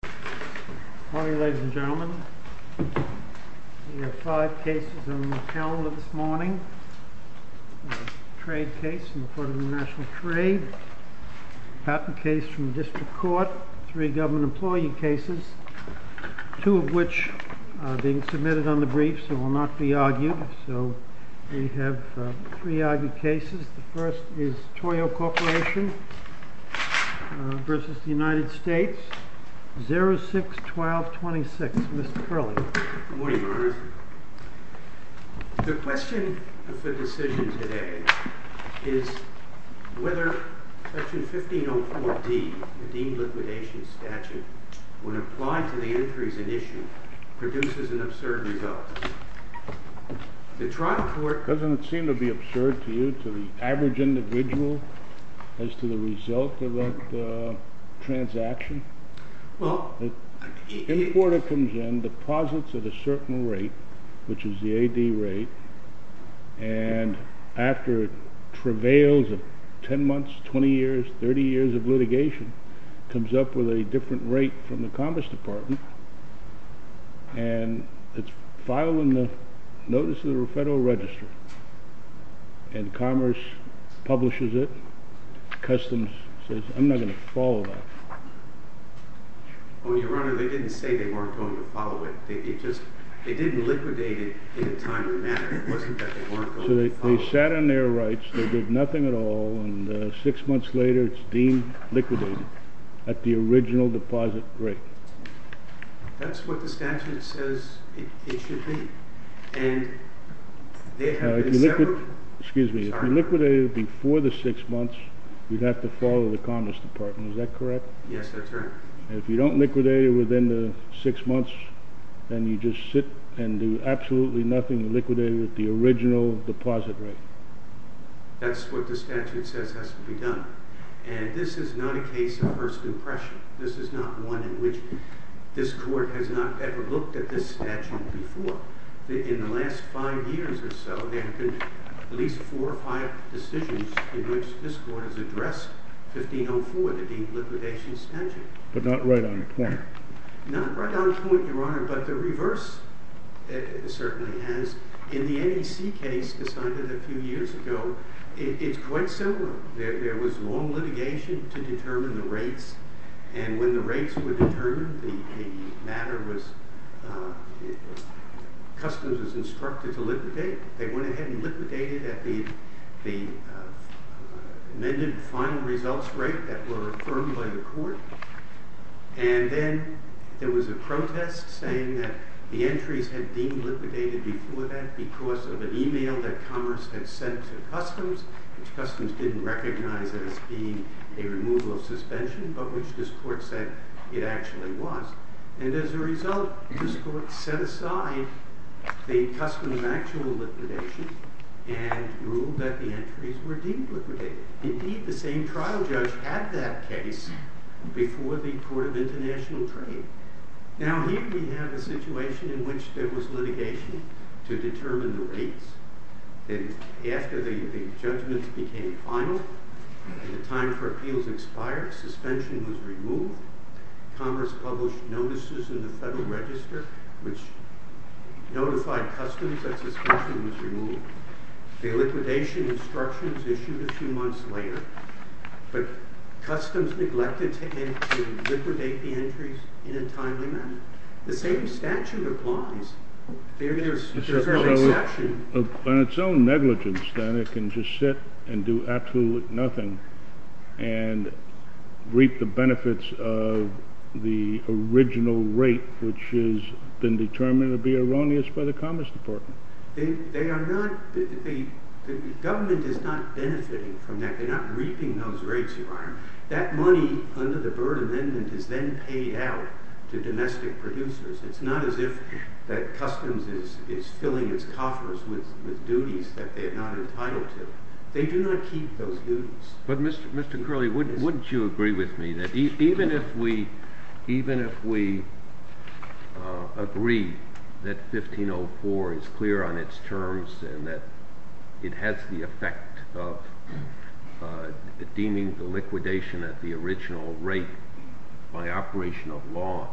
Good morning, ladies and gentlemen. We have five cases on the calendar this morning. A trade case in the court of international trade. A patent case from the district court. Three government employee cases. Two of which are being submitted on the briefs and will not be argued. So we have three argued cases. The first is Koyo Corporation v. United States. 06-12-26. Mr. Curley. Good morning, Your Honor. The question of the decision today is whether Section 1504D, the deemed liquidation statute, when applied to the entries in issue, produces an absurd result. The trial court... Doesn't it seem to be absurd to you, to the average individual, as to the result of that transaction? Well... The importer comes in, deposits at a certain rate, which is the AD rate, and after travails of 10 months, 20 years, 30 years of litigation, comes up with a different rate from the Commerce Department, and it's filed in the Notice of the Federal Register. And Commerce publishes it. Customs says, I'm not going to follow that. Well, Your Honor, they didn't say they weren't going to follow it. They just... they didn't liquidate it in a timely manner. It wasn't that they weren't going to follow it. So they sat on their rights, they did nothing at all, and six months later it's deemed liquidated at the original deposit rate. That's what the statute says it should be. And... Now, if you liquidate... Excuse me. If you liquidate it before the six months, you'd have to follow the Commerce Department. Is that correct? Yes, that's right. And if you don't liquidate it within the six months, then you just sit and do absolutely nothing, liquidate it at the original deposit rate. That's what the statute says has to be done. And this is not a case of first impression. This is not one in which this Court has not ever looked at this statute before. In the last five years or so, there have been at least four or five decisions in which this Court has addressed 1504, the deemed liquidation statute. But not right on point. Not right on point, Your Honor, but the reverse certainly has. In the NEC case decided a few years ago, it's quite similar. There was long litigation to determine the rates, and when the rates were determined, the matter was... customs was instructed to liquidate. They went ahead and liquidated at the amended final results rate that were affirmed by the Court. And then there was a protest saying that the entries had been liquidated before that because of an email that Commerce had sent to customs, which customs didn't recognize as being a removal of suspension, but which this Court said it actually was. And as a result, this Court set aside the custom of actual liquidation and ruled that the entries were deemed liquidated. Indeed, the same trial judge had that case before the Court of International Trade. Now, here we have a situation in which there was litigation to determine the rates. After the judgments became final, the time for appeals expired, suspension was removed, Commerce published notices in the Federal Register which notified customs that suspension was removed. The liquidation instructions issued a few months later, but customs neglected to liquidate the entries in a timely manner. The same statute applies. There is no exception. On its own negligence, then, it can just sit and do absolutely nothing and reap the benefits of the original rate, which has been determined to be erroneous by the Commerce Department. The government is not benefiting from that. They're not reaping those rates, Your Honor. That money under the Byrd Amendment is then paid out to domestic producers. It's not as if customs is filling its coffers with duties that they are not entitled to. They do not keep those duties. But, Mr. Curley, wouldn't you agree with me that even if we agree that 1504 is clear on its terms and that it has the effect of deeming the liquidation at the original rate by operation of law,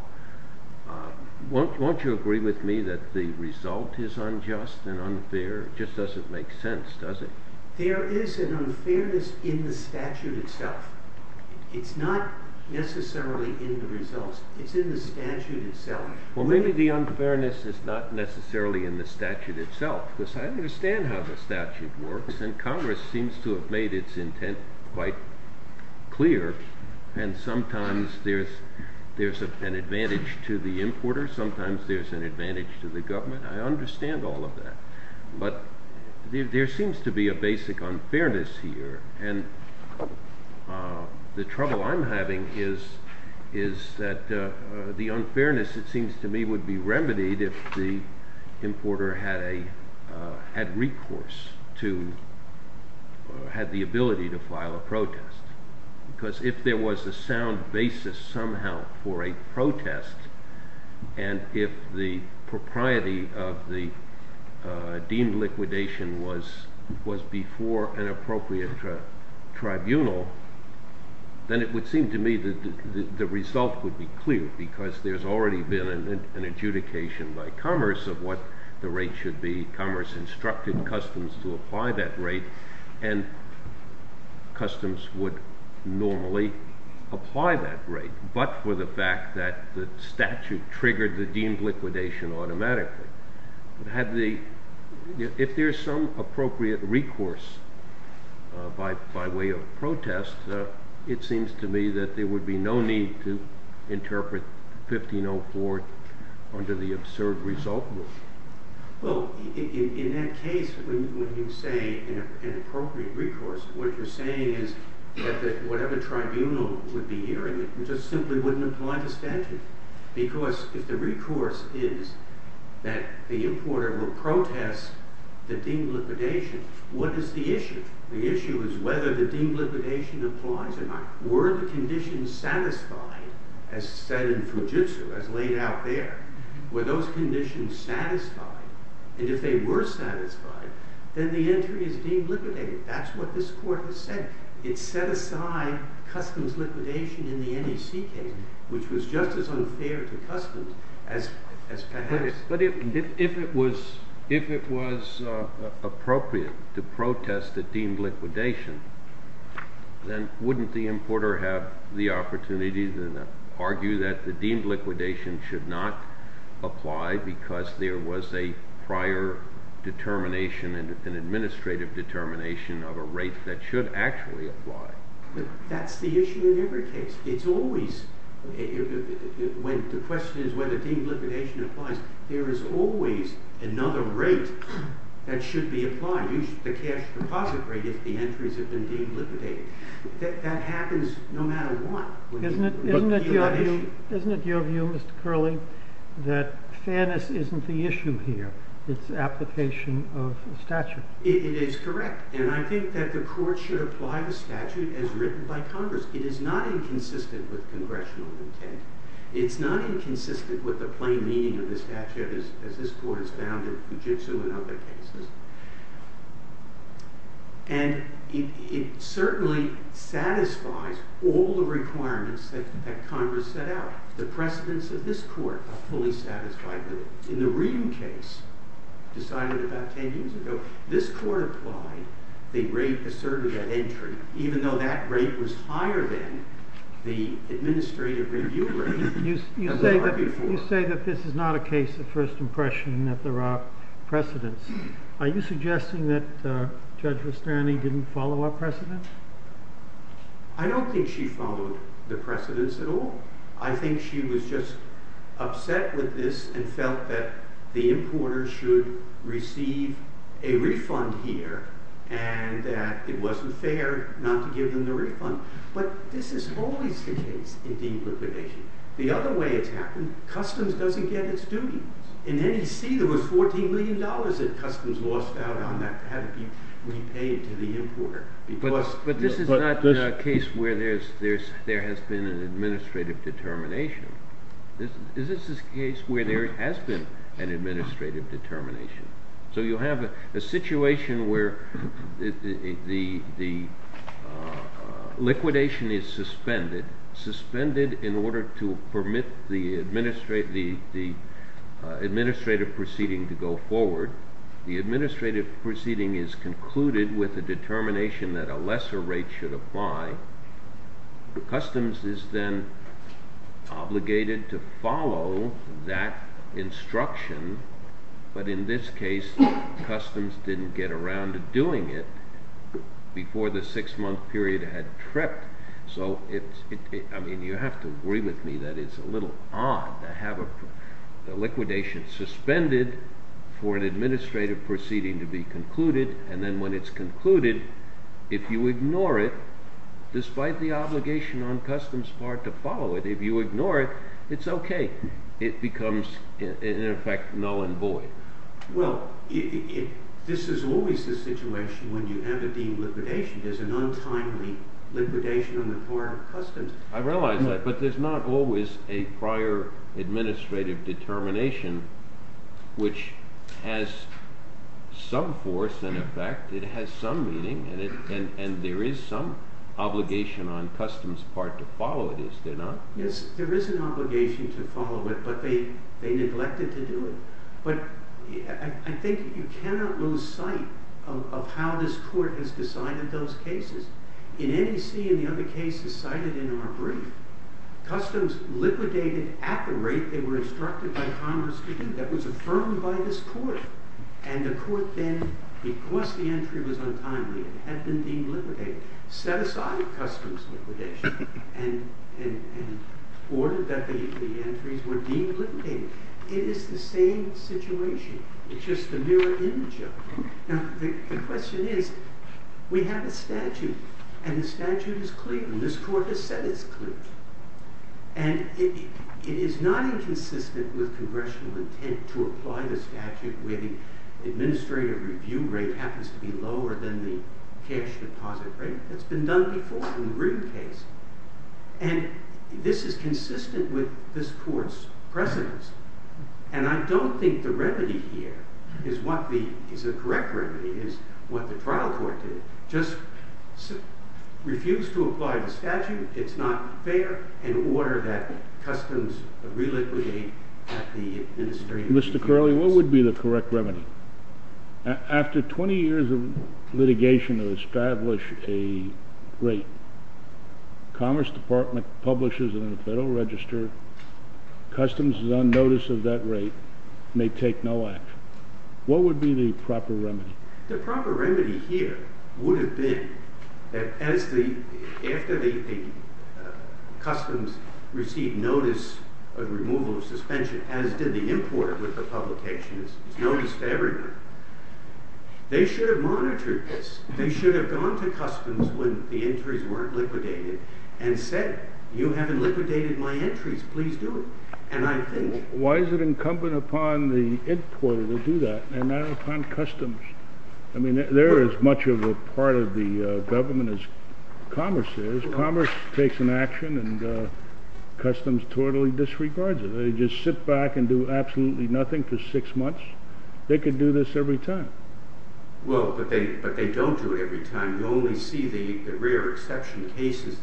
won't you agree with me that the result is unjust and unfair? It just doesn't make sense, does it? There is an unfairness in the statute itself. It's not necessarily in the results. It's in the statute itself. Well, maybe the unfairness is not necessarily in the statute itself, because I understand how the statute works, and Congress seems to have made its intent quite clear. And sometimes there's an advantage to the importer. Sometimes there's an advantage to the government. I understand all of that. But there seems to be a basic unfairness here, and the trouble I'm having is that the unfairness, it seems to me, would be remedied if the importer had recourse to or had the ability to file a protest, and if the propriety of the deemed liquidation was before an appropriate tribunal, then it would seem to me that the result would be clear, because there's already been an adjudication by Commerce of what the rate should be. Commerce instructed Customs to apply that rate, and Customs would normally apply that rate, but for the fact that the statute triggered the deemed liquidation automatically. If there's some appropriate recourse by way of protest, it seems to me that there would be no need to interpret 1504 under the absurd result rule. Well, in that case, when you say an appropriate recourse, what you're saying is that whatever tribunal would be hearing it just simply wouldn't apply the statute, because if the recourse is that the importer will protest the deemed liquidation, what is the issue? The issue is whether the deemed liquidation applies or not. Were the conditions satisfied, as said in Fujitsu, as laid out there, were those conditions satisfied? And if they were satisfied, then the entry is deemed liquidated. That's what this court has said. It set aside Customs liquidation in the NEC case, which was just as unfair to Customs as perhaps. But if it was appropriate to protest the deemed liquidation, then wouldn't the importer have the opportunity to argue that the deemed liquidation should not apply because there was a prior determination and an administrative determination of a rate that should actually apply? That's the issue in every case. The question is whether deemed liquidation applies. There is always another rate that should be applied, the cash deposit rate if the entries have been deemed liquidated. That happens no matter what. Isn't it your view, Mr. Curley, that fairness isn't the issue here? It's the application of the statute. It is correct. And I think that the court should apply the statute as written by Congress. It is not inconsistent with congressional intent. It's not inconsistent with the plain meaning of the statute, as this court has found in Fujitsu and other cases. And it certainly satisfies all the requirements that Congress set out. The precedents of this court are fully satisfied with it. In the Reedham case decided about 10 years ago, this court applied the rate asserted at entry, even though that rate was higher than the administrative review rate. You say that this is not a case of first impression and that there are precedents. Are you suggesting that Judge Rusterni didn't follow our precedents? I don't think she followed the precedents at all. I think she was just upset with this and felt that the importers should receive a refund here and that it wasn't fair not to give them the refund. But this is always the case in deemed liquidation. The other way it's happened, customs doesn't get its duties. In NEC, there was $14 million that customs lost out on that to have it be repaid to the importer. But this is not a case where there has been an administrative determination. This is a case where there has been an administrative determination. So you have a situation where the liquidation is suspended, suspended in order to permit the administrative proceeding to go forward. The administrative proceeding is concluded with a determination that a lesser rate should apply. Customs is then obligated to follow that instruction. But in this case, customs didn't get around to doing it before the six-month period had tripped. So you have to agree with me that it's a little odd to have a liquidation suspended for an administrative proceeding to be concluded. And then when it's concluded, if you ignore it, despite the obligation on customs part to follow it, if you ignore it, it's okay. It becomes, in effect, null and void. Well, this is always the situation when you have a deemed liquidation. I realize that, but there's not always a prior administrative determination which has some force and effect. It has some meaning, and there is some obligation on customs part to follow it, is there not? Yes, there is an obligation to follow it, but they neglected to do it. But I think you cannot lose sight of how this court has decided those cases. In NEC and the other cases cited in our brief, customs liquidated at the rate they were instructed by Congress to do. That was affirmed by this court. And the court then, because the entry was untimely, it had been deemed liquidated, set aside customs liquidation and ordered that the entries were deemed liquidated. It is the same situation. It's just a mirror image of it. Now, the question is, we have a statute, and the statute is clear. And this court has said it's clear. And it is not inconsistent with congressional intent to apply the statute where the administrative review rate happens to be lower than the cash deposit rate. That's been done before in the Green case. And this is consistent with this court's precedence. And I don't think the remedy here is the correct remedy, is what the trial court did. Just refuse to apply the statute. It's not fair. And order that customs reliquidate at the administrative review rate. Mr. Curley, what would be the correct remedy? After 20 years of litigation to establish a rate, the Commerce Department publishes it in the Federal Register. Customs is on notice of that rate, may take no action. What would be the proper remedy? The proper remedy here would have been that after the customs received notice of removal of suspension, as did the import with the publication, it's noticed everywhere. They should have monitored this. They should have gone to customs when the entries weren't liquidated and said, you haven't liquidated my entries. Please do it. And I think why is it incumbent upon the importer to do that and not upon customs? I mean, they're as much of a part of the government as commerce is. Commerce takes an action, and customs totally disregards it. They just sit back and do absolutely nothing for six months. They could do this every time. Well, but they don't do it every time. You only see the rare exception cases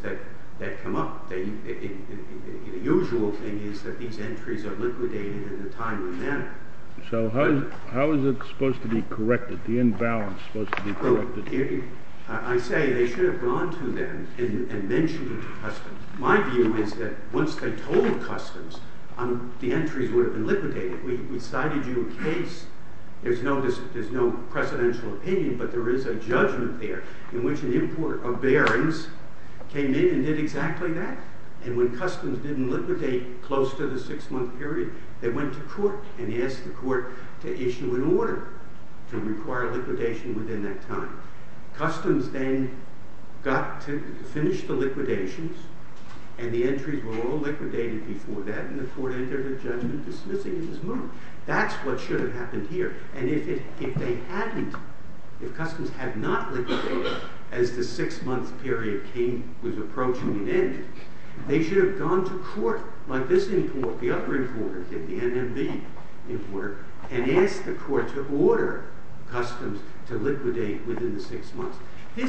that come up. The usual thing is that these entries are liquidated in a timely manner. So how is it supposed to be corrected, the imbalance supposed to be corrected? I say they should have gone to them and mentioned it to customs. My view is that once they told customs, the entries would have been liquidated. We cited you a case. There's no precedential opinion, but there is a judgment there. In which an importer of bearings came in and did exactly that. And when customs didn't liquidate close to the six-month period, they went to court and asked the court to issue an order to require liquidation within that time. Customs then got to finish the liquidations, and the entries were all liquidated before that, and the court entered a judgment dismissing it as wrong. That's what should have happened here. And if they hadn't, if customs had not liquidated as the six-month period was approaching an end, they should have gone to court like this importer, the other importer, the NMB importer, and asked the court to order customs to liquidate within the six months. In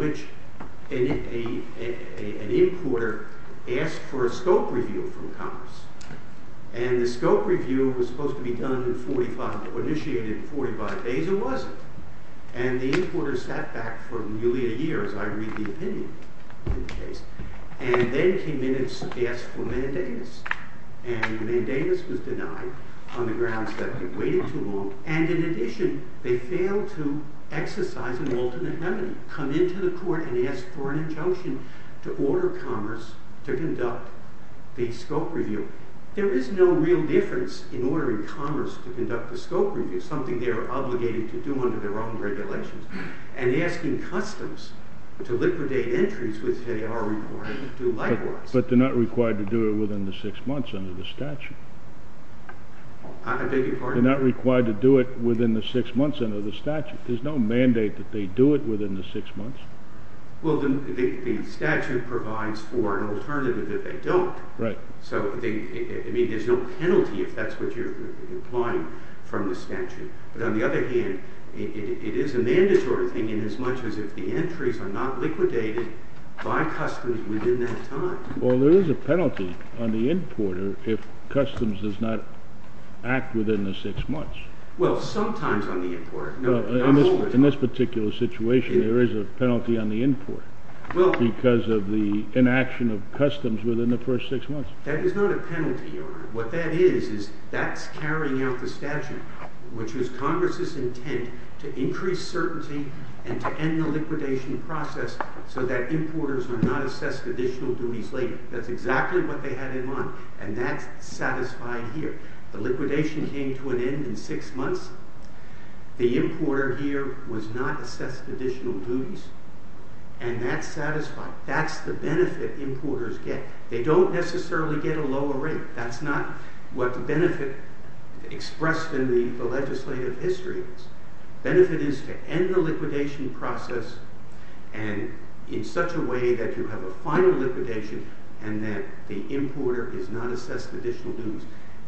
which an importer asked for a scope review from commerce. And the scope review was supposed to be done in 45, or initiated in 45 days, or was it? And the importer sat back for nearly a year as I read the opinion in the case. And then came in and asked for mandamus. And mandamus was denied on the grounds that it waited too long. And in addition, they failed to exercise an ultimate remedy. Come into the court and ask for an injunction to order commerce to conduct the scope review. There is no real difference in ordering commerce to conduct the scope review, something they are obligated to do under their own regulations. And asking customs to liquidate entries which they are required to do likewise. But they're not required to do it within the six months under the statute. I beg your pardon? They're not required to do it within the six months under the statute. There's no mandate that they do it within the six months. Well, the statute provides for an alternative if they don't. Right. So, I mean, there's no penalty if that's what you're implying from the statute. But on the other hand, it is a mandatory thing inasmuch as if the entries are not liquidated by customs within that time. Well, there is a penalty on the importer if customs does not act within the six months. Well, sometimes on the importer. In this particular situation, there is a penalty on the importer because of the inaction of customs within the first six months. That is not a penalty, Your Honor. What that is is that's carrying out the statute, which is Congress's intent to increase certainty and to end the liquidation process so that importers are not assessed additional duties later. That's exactly what they had in mind, and that's satisfied here. The liquidation came to an end in six months. The importer here was not assessed additional duties, and that's satisfied. That's the benefit importers get. They don't necessarily get a lower rate. That's not what the benefit expressed in the legislative history is. The benefit is to end the liquidation process in such a way that you have a final liquidation and that the importer is not assessed additional duties.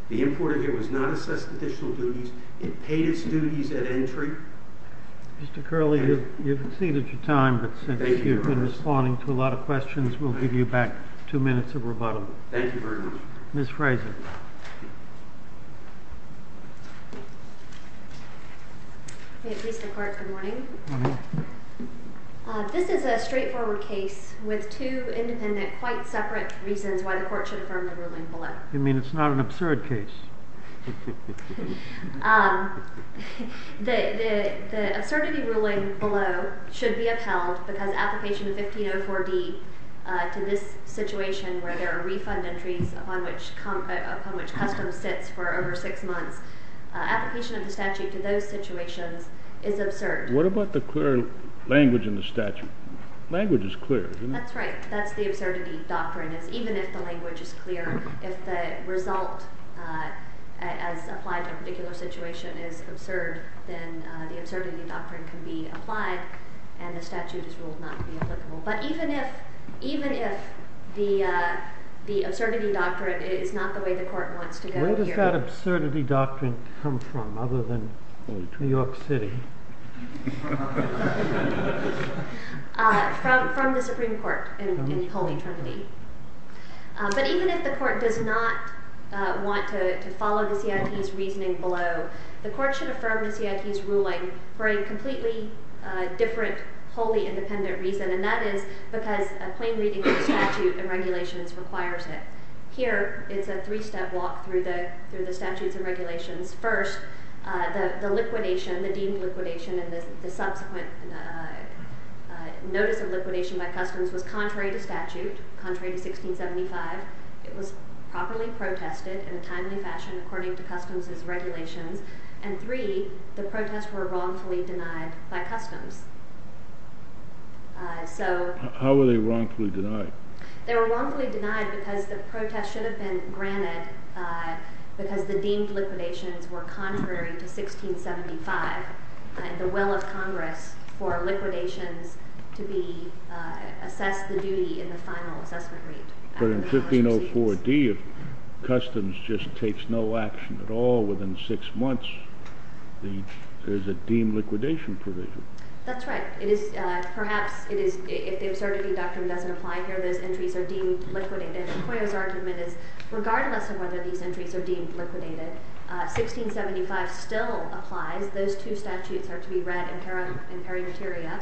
The importer here was not assessed additional duties. It paid its duties at entry. Mr. Curley, you've exceeded your time, but since you've been responding to a lot of questions, we'll give you back two minutes of rebuttal. Thank you very much. Ms. Fraser. May it please the Court, good morning. Good morning. This is a straightforward case with two independent, quite separate reasons why the Court should affirm the ruling below. You mean it's not an absurd case? The absurdity ruling below should be upheld because application of 1504D to this situation where there are refund entries upon which customs sits for over six months, application of the statute to those situations is absurd. What about the clear language in the statute? Language is clear, isn't it? That's right. That's the absurdity doctrine. Even if the language is clear, if the result as applied to a particular situation is absurd, then the absurdity doctrine can be applied and the statute is ruled not to be applicable. But even if the absurdity doctrine is not the way the Court wants to go here. Where does that absurdity doctrine come from other than New York City? From the Supreme Court in Holy Trinity. But even if the Court does not want to follow the CIT's reasoning below, the Court should affirm the CIT's ruling for a completely different wholly independent reason and that is because a plain reading of the statute and regulations requires it. Here, it's a three-step walk through the statutes and regulations. First, the liquidation, the deemed liquidation and the subsequent notice of liquidation by customs was contrary to statute, contrary to 1675. It was properly protested in a timely fashion according to customs' regulations. And three, the protests were wrongfully denied by customs. How were they wrongfully denied? They were wrongfully denied because the protests should have been granted because the deemed liquidations were contrary to 1675 and the will of Congress for liquidations to be assessed the duty in the final assessment read. But in 1504D, if customs just takes no action at all within six months, there's a deemed liquidation provision. That's right. It is perhaps, if the observability doctrine doesn't apply here, those entries are deemed liquidated. McCoy's argument is regardless of whether these entries are deemed liquidated, 1675 still applies. Those two statutes are to be read in perimeteria.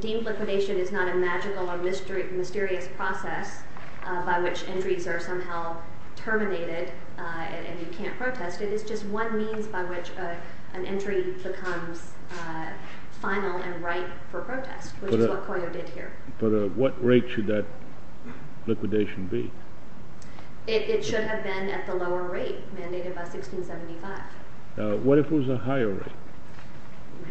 Deemed liquidation is not a magical or mysterious process by which entries are somehow terminated and you can't protest. It is just one means by which an entry becomes final and right for protest, which is what Coyo did here. But at what rate should that liquidation be? It should have been at the lower rate mandated by 1675. What if it was a higher rate?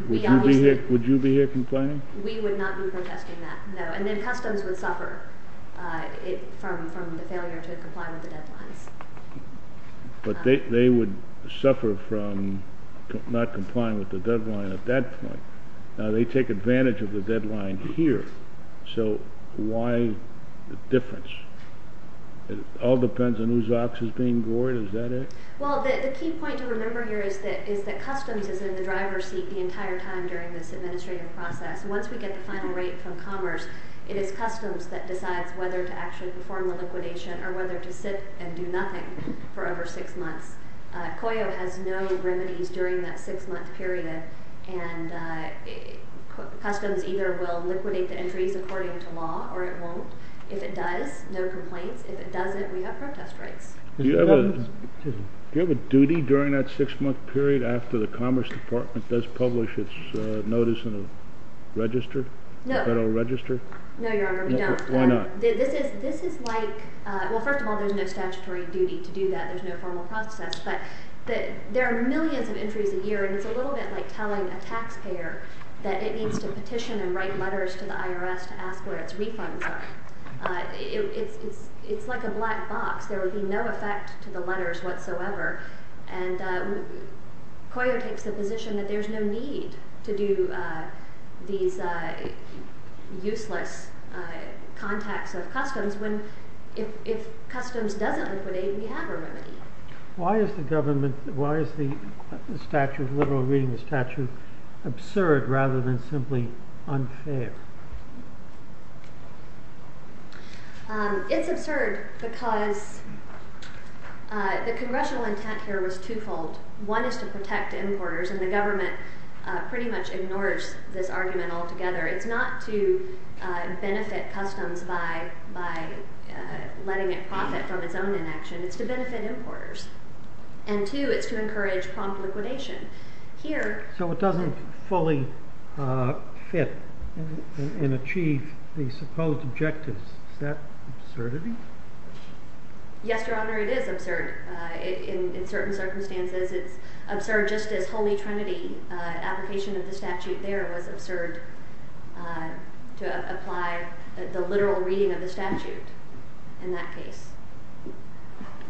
Would you be here complying? We would not be protesting that, no. And then customs would suffer from the failure to comply with the deadlines. But they would suffer from not complying with the deadline at that point. Now, they take advantage of the deadline here. So why the difference? It all depends on whose ox is being gored, is that it? Well, the key point to remember here is that customs is in the driver's seat the entire time during this administrative process. Once we get the final rate from commerce, it is customs that decides whether to actually perform the liquidation or whether to sit and do nothing for over six months. Coyo has no remedies during that six-month period, and customs either will liquidate the entries according to law or it won't. If it does, no complaints. If it doesn't, we have protest rights. Do you have a duty during that six-month period after the Commerce Department does publish its notice in the register, the Federal Register? No, Your Honor, we don't. Why not? Well, first of all, there's no statutory duty to do that. There's no formal process. But there are millions of entries a year, and it's a little bit like telling a taxpayer that it needs to petition and write letters to the IRS to ask where its refunds are. It's like a black box. There would be no effect to the letters whatsoever. And Coyo takes the position that there's no need to do these useless contacts of customs when if customs doesn't liquidate, we have a remedy. Why is the government, why is the statute, the liberal reading of the statute, absurd rather than simply unfair? It's absurd because the congressional intent here was twofold. One is to protect importers, and the government pretty much ignores this argument altogether. It's not to benefit customs by letting it profit from its own inaction. It's to benefit importers. And two, it's to encourage prompt liquidation. So it doesn't fully fit and achieve the supposed objectives. Is that absurdity? Yes, Your Honor, it is absurd. In certain circumstances, it's absurd just as Holy Trinity, application of the statute there was absurd to apply the literal reading of the statute in that case.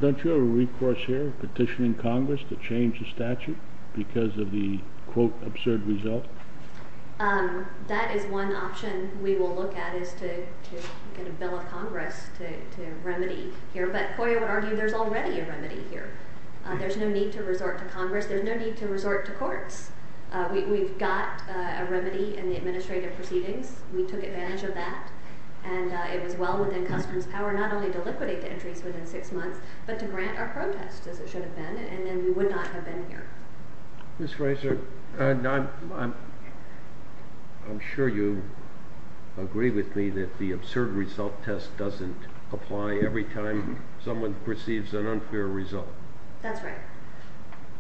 Don't you have a recourse here, petitioning Congress to change the statute because of the, quote, absurd result? That is one option we will look at is to get a bill of Congress to remedy here. But Coya would argue there's already a remedy here. There's no need to resort to Congress. There's no need to resort to courts. We've got a remedy in the administrative proceedings. We took advantage of that, and it was well within customs power not only to liquidate the entries within six months but to grant our protest, as it should have been, and then we would not have been here. Ms. Fraser, I'm sure you agree with me that the absurd result test doesn't apply every time someone perceives an unfair result. That's right.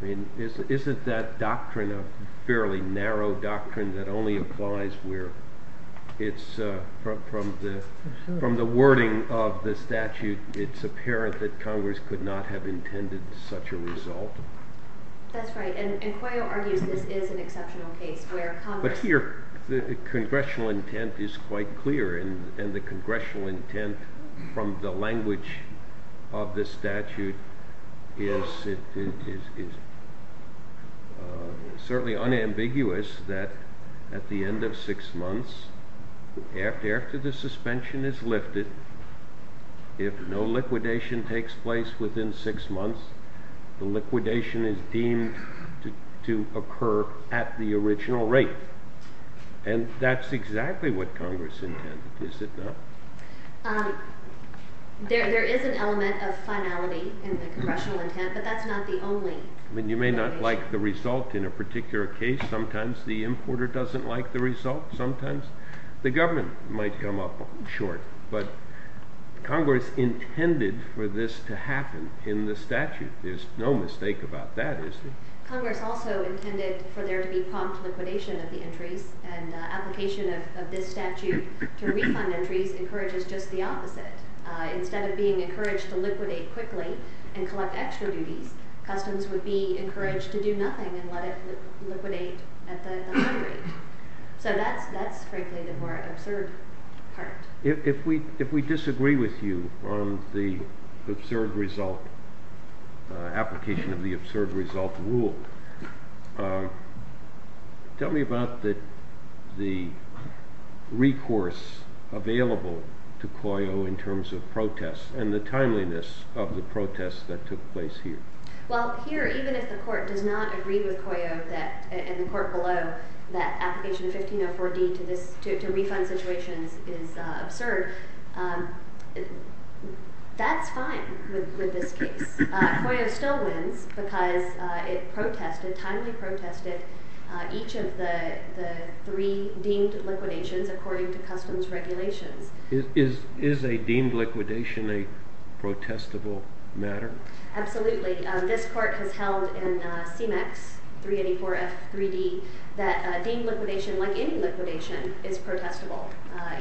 I mean, isn't that doctrine a fairly narrow doctrine that only applies where it's from the wording of the statute, it's apparent that Congress could not have intended such a result? That's right, and Coya argues this is an exceptional case where Congress... But here, the congressional intent is quite clear, and the congressional intent from the language of the statute is certainly unambiguous that at the end of six months, after the suspension is lifted, if no liquidation takes place within six months, the liquidation is deemed to occur at the original rate. And that's exactly what Congress intended, is it not? There is an element of finality in the congressional intent, but that's not the only... I mean, you may not like the result in a particular case. Sometimes the importer doesn't like the result. Sometimes the government might come up short. But Congress intended for this to happen in the statute. There's no mistake about that, is there? Congress also intended for there to be prompt liquidation of the entries, and the application of this statute to refund entries encourages just the opposite. Instead of being encouraged to liquidate quickly and collect extra duties, customs would be encouraged to do nothing and let it liquidate at the high rate. So that's, frankly, the more absurd part. If we disagree with you on the absurd result, application of the absurd result rule, tell me about the recourse available to COYO in terms of protests and the timeliness of the protests that took place here. Well, here, even if the court does not agree with COYO and the court below that application of 1504D to refund situations is absurd, that's fine with this case. COYO still wins because it protested, timely protested, each of the three deemed liquidations according to customs regulations. Is a deemed liquidation a protestable matter? Absolutely. This court has held in CMEX 384F3D that deemed liquidation, like any liquidation, is protestable.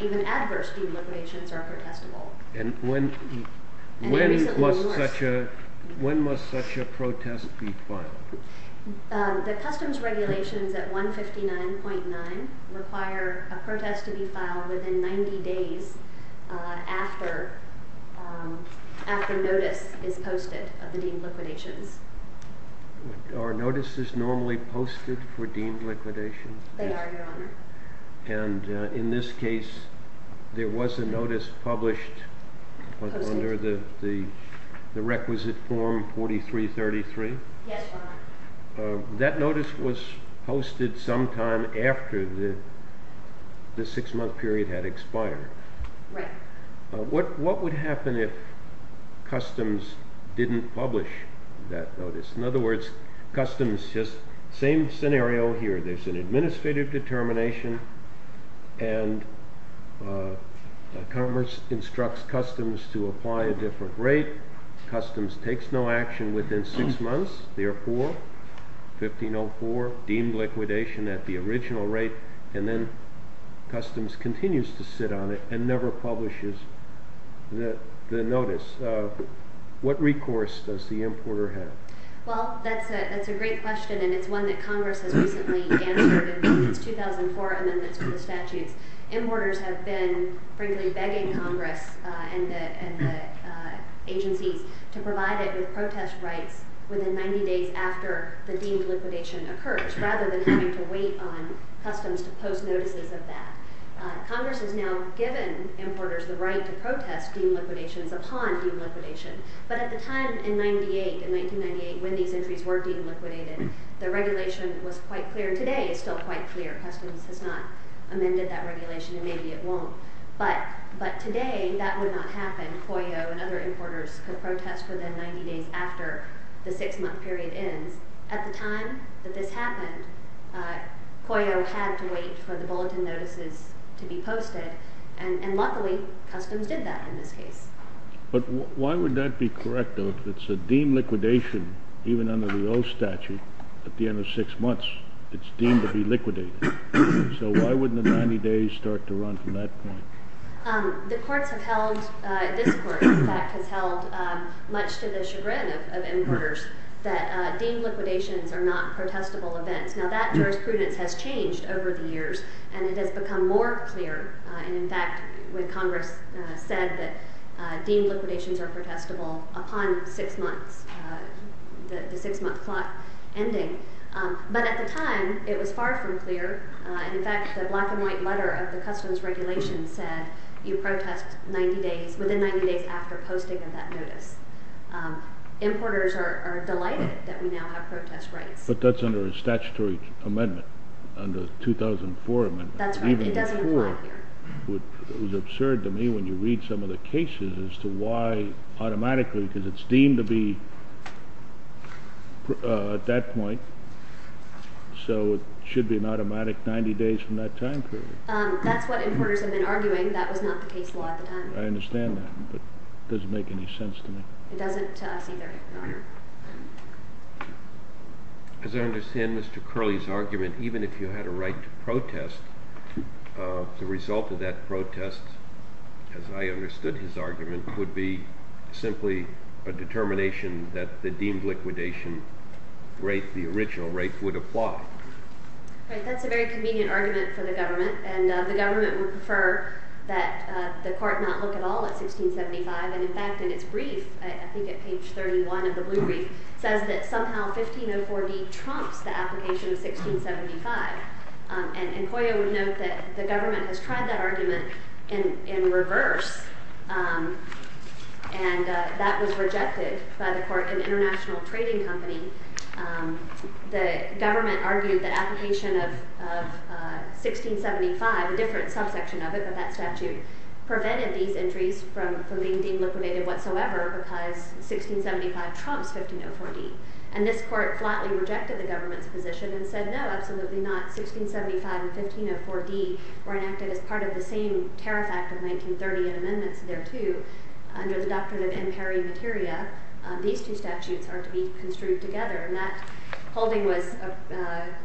Even adverse deemed liquidations are protestable. And when must such a protest be filed? The customs regulations at 159.9 require a protest to be filed within 90 days after notice is posted of the deemed liquidations. Are notices normally posted for deemed liquidation? They are, Your Honor. And in this case, there was a notice published under the requisite form 4333? Yes, Your Honor. That notice was posted sometime after the six-month period had expired. Right. What would happen if customs didn't publish that notice? In other words, customs just same scenario here. There's an administrative determination and commerce instructs customs to apply a different rate. Customs takes no action within six months. Therefore, 1504, deemed liquidation at the original rate, and then customs continues to sit on it and never publishes the notice. What recourse does the importer have? Well, that's a great question, and it's one that Congress has recently answered in its 2004 amendments to the statutes. Importers have been, frankly, begging Congress and the agencies to provide it with protest rights within 90 days after the deemed liquidation occurs rather than having to wait on customs to post notices of that. Congress has now given importers the right to protest deemed liquidations upon deemed liquidation. But at the time in 1998, when these entries were deemed liquidated, the regulation was quite clear, and today it's still quite clear. Customs has not amended that regulation, and maybe it won't. But today that would not happen. Coyote and other importers could protest within 90 days after the six-month period ends. At the time that this happened, Coyote had to wait for the bulletin notices to be posted, and luckily customs did that in this case. But why would that be correct, though? If it's a deemed liquidation, even under the old statute, at the end of six months, it's deemed to be liquidated. So why wouldn't the 90 days start to run from that point? The courts have held, this court, in fact, has held much to the chagrin of importers that deemed liquidations are not protestable events. Now that jurisprudence has changed over the years, and it has become more clear. In fact, when Congress said that deemed liquidations are protestable upon six months, the six-month clock ending. But at the time, it was far from clear. In fact, the black-and-white letter of the customs regulation said you protest within 90 days after posting of that notice. Importers are delighted that we now have protest rights. But that's under a statutory amendment, under the 2004 amendment. That's right. It doesn't apply here. It was absurd to me when you read some of the cases as to why automatically, because it's deemed to be at that point. So it should be an automatic 90 days from that time period. That's what importers have been arguing. That was not the case law at the time. I understand that, but it doesn't make any sense to me. It doesn't to us either, Your Honor. As I understand Mr. Curley's argument, even if you had a right to protest, the result of that protest, as I understood his argument, would be simply a determination that the deemed liquidation rate, the original rate, would apply. Right. That's a very convenient argument for the government. The government would prefer that the court not look at all at 1675. In fact, in its brief, I think at page 31 of the blue brief, it says that somehow 1504d trumps the application of 1675. And Coya would note that the government has tried that argument in reverse, and that was rejected by the court in International Trading Company. The government argued that application of 1675, a different subsection of it, but that statute, prevented these injuries from being deemed liquidated whatsoever because 1675 trumps 1504d. And this court flatly rejected the government's position and said, no, absolutely not. 1675 and 1504d were enacted as part of the same Tariff Act of 1930 and amendments there too. Under the Doctrine of Imperii Materia, these two statutes are to be construed together. And that holding was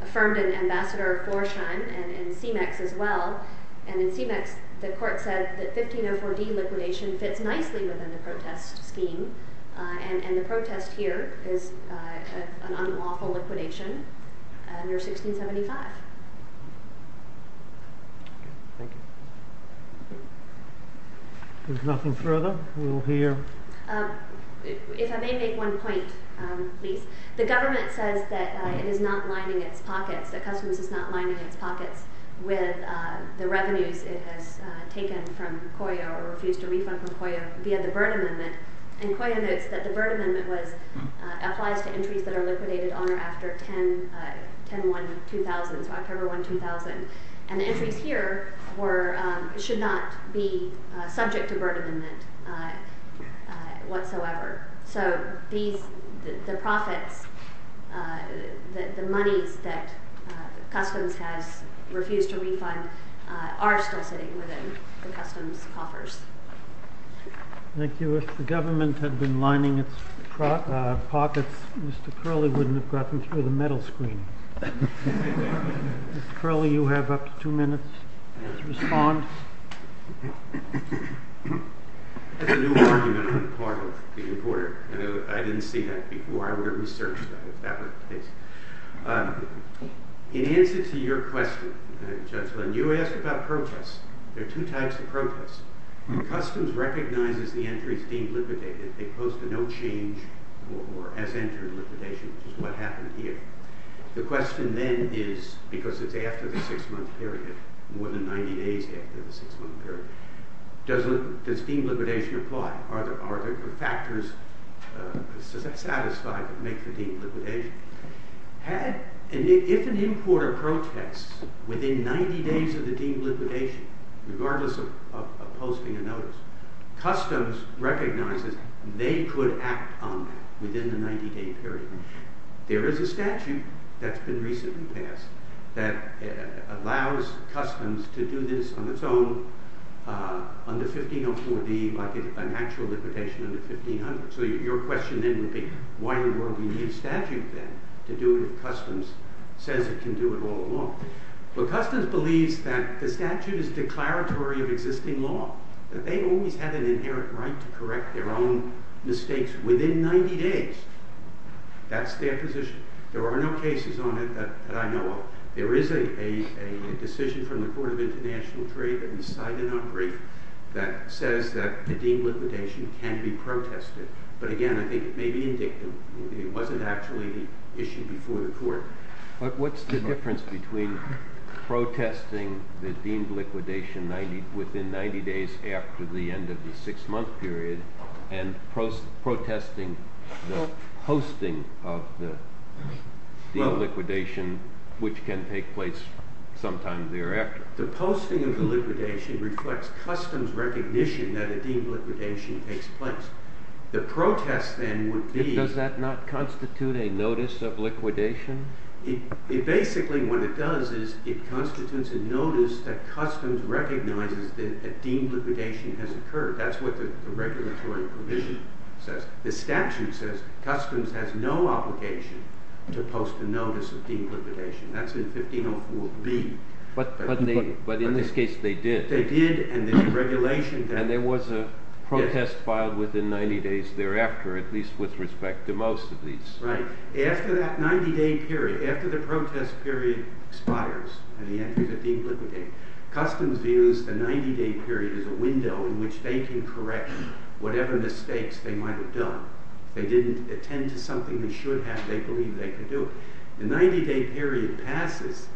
affirmed in Ambassador Florsheim and in CMEX as well. And in CMEX, the court said that 1504d liquidation fits nicely within the protest scheme, and the protest here is an unlawful liquidation under 1675. Thank you. If there's nothing further, we'll hear. If I may make one point, please. The government says that it is not lining its pockets, that Customs is not lining its pockets with the revenues it has taken from Coya or refused to refund from Coya via the Byrne Amendment, and Coya notes that the Byrne Amendment applies to entries that are liquidated on or after October 1, 2000. And the entries here should not be subject to Byrne Amendment whatsoever. So the profits, the monies that Customs has refused to refund, are still sitting within the Customs coffers. Thank you. If the government had been lining its pockets, Mr. Curley wouldn't have gotten through the metal screen. Mr. Curley, you have up to two minutes to respond. That's a new argument on the part of the reporter. I didn't see that before. I would have researched that if that were the case. In answer to your question, gentlemen, you asked about protests. There are two types of protests. Customs recognizes the entries deemed liquidated. They post a no change or as entered liquidation, which is what happened here. The question then is, because it's after the six-month period, more than 90 days after the six-month period, does deemed liquidation apply? Are there factors satisfied that make the deemed liquidation? If an importer protests within 90 days of the deemed liquidation, regardless of posting a notice, Customs recognizes they could act on that within the 90-day period. There is a statute that's been recently passed that allows Customs to do this on its own under 1504B, like an actual liquidation under 1500. Your question then would be, why in the world would you need a statute then to do it if Customs says it can do it all alone? Customs believes that the statute is declaratory of existing law, that they've always had an inherent right to correct their own mistakes within 90 days. That's their position. There are no cases on it that I know of. There is a decision from the Court of International Trade that says that the deemed liquidation can be protested. But again, I think it may be indicative. It wasn't actually issued before the Court. What's the difference between protesting the deemed liquidation within 90 days after the end of the six-month period and protesting the posting of the deemed liquidation, which can take place sometime thereafter? The posting of the liquidation reflects Customs' recognition that a deemed liquidation takes place. The protest then would be... Does that not constitute a notice of liquidation? Basically, what it does is it constitutes a notice that Customs recognizes that a deemed liquidation has occurred. That's what the regulatory provision says. The statute says Customs has no obligation to post a notice of deemed liquidation. That's in 1504B. But in this case, they did. They did, and the regulation... And there was a protest filed within 90 days thereafter, at least with respect to most of these. Right. After that 90-day period, after the protest period expires and the entries are deemed liquidated, Customs views the 90-day period as a window in which they can correct whatever mistakes they might have done. If they didn't attend to something they should have, they believe they could do it. The 90-day period passes.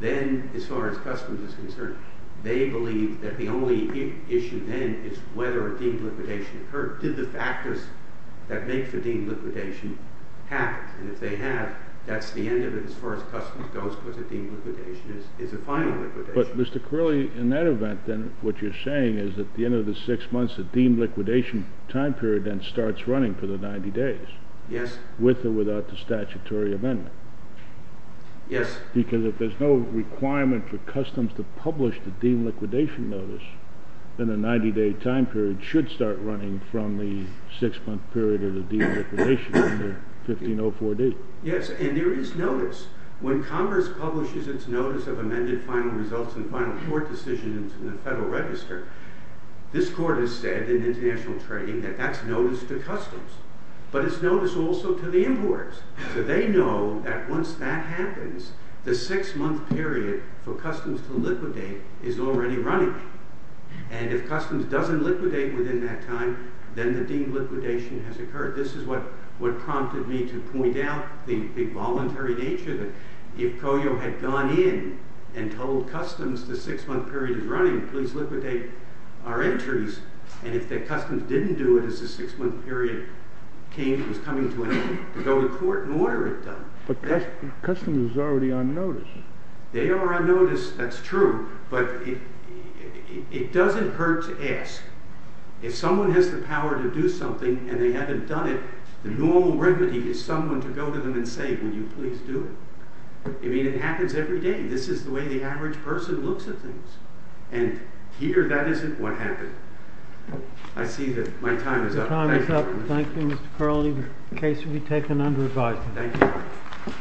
Then, as far as Customs is concerned, they believe that the only issue then is whether a deemed liquidation occurred. Did the factors that make for deemed liquidation happen? And if they have, that's the end of it as far as Customs goes because a deemed liquidation is a final liquidation. But, Mr. Curley, in that event, then, what you're saying is at the end of the six months, the deemed liquidation time period then starts running for the 90 days... Yes. ...with or without the statutory amendment. Yes. Because if there's no requirement for Customs to publish the deemed liquidation notice, then the 90-day time period should start running from the six-month period of the deemed liquidation under 1504D. Yes, and there is notice. When Congress publishes its notice of amended final results and final court decisions in the Federal Register, this Court has said in international trading that that's notice to Customs. But it's notice also to the importers, so they know that once that happens, the six-month period for Customs to liquidate is already running. And if Customs doesn't liquidate within that time, then the deemed liquidation has occurred. This is what prompted me to point out the voluntary nature that if COYO had gone in and told Customs the six-month period is running, please liquidate our entries, and if Customs didn't do it as the six-month period was coming to an end, to go to court and order it done. But Customs is already on notice. They are on notice, that's true, but it doesn't hurt to ask. If someone has the power to do something and they haven't done it, the normal remedy is someone to go to them and say, will you please do it? I mean, it happens every day. This is the way the average person looks at things. And here, that isn't what happened. I see that my time is up. Time is up. Thank you, Mr. Carlini. The case will be taken under advisement. Thank you.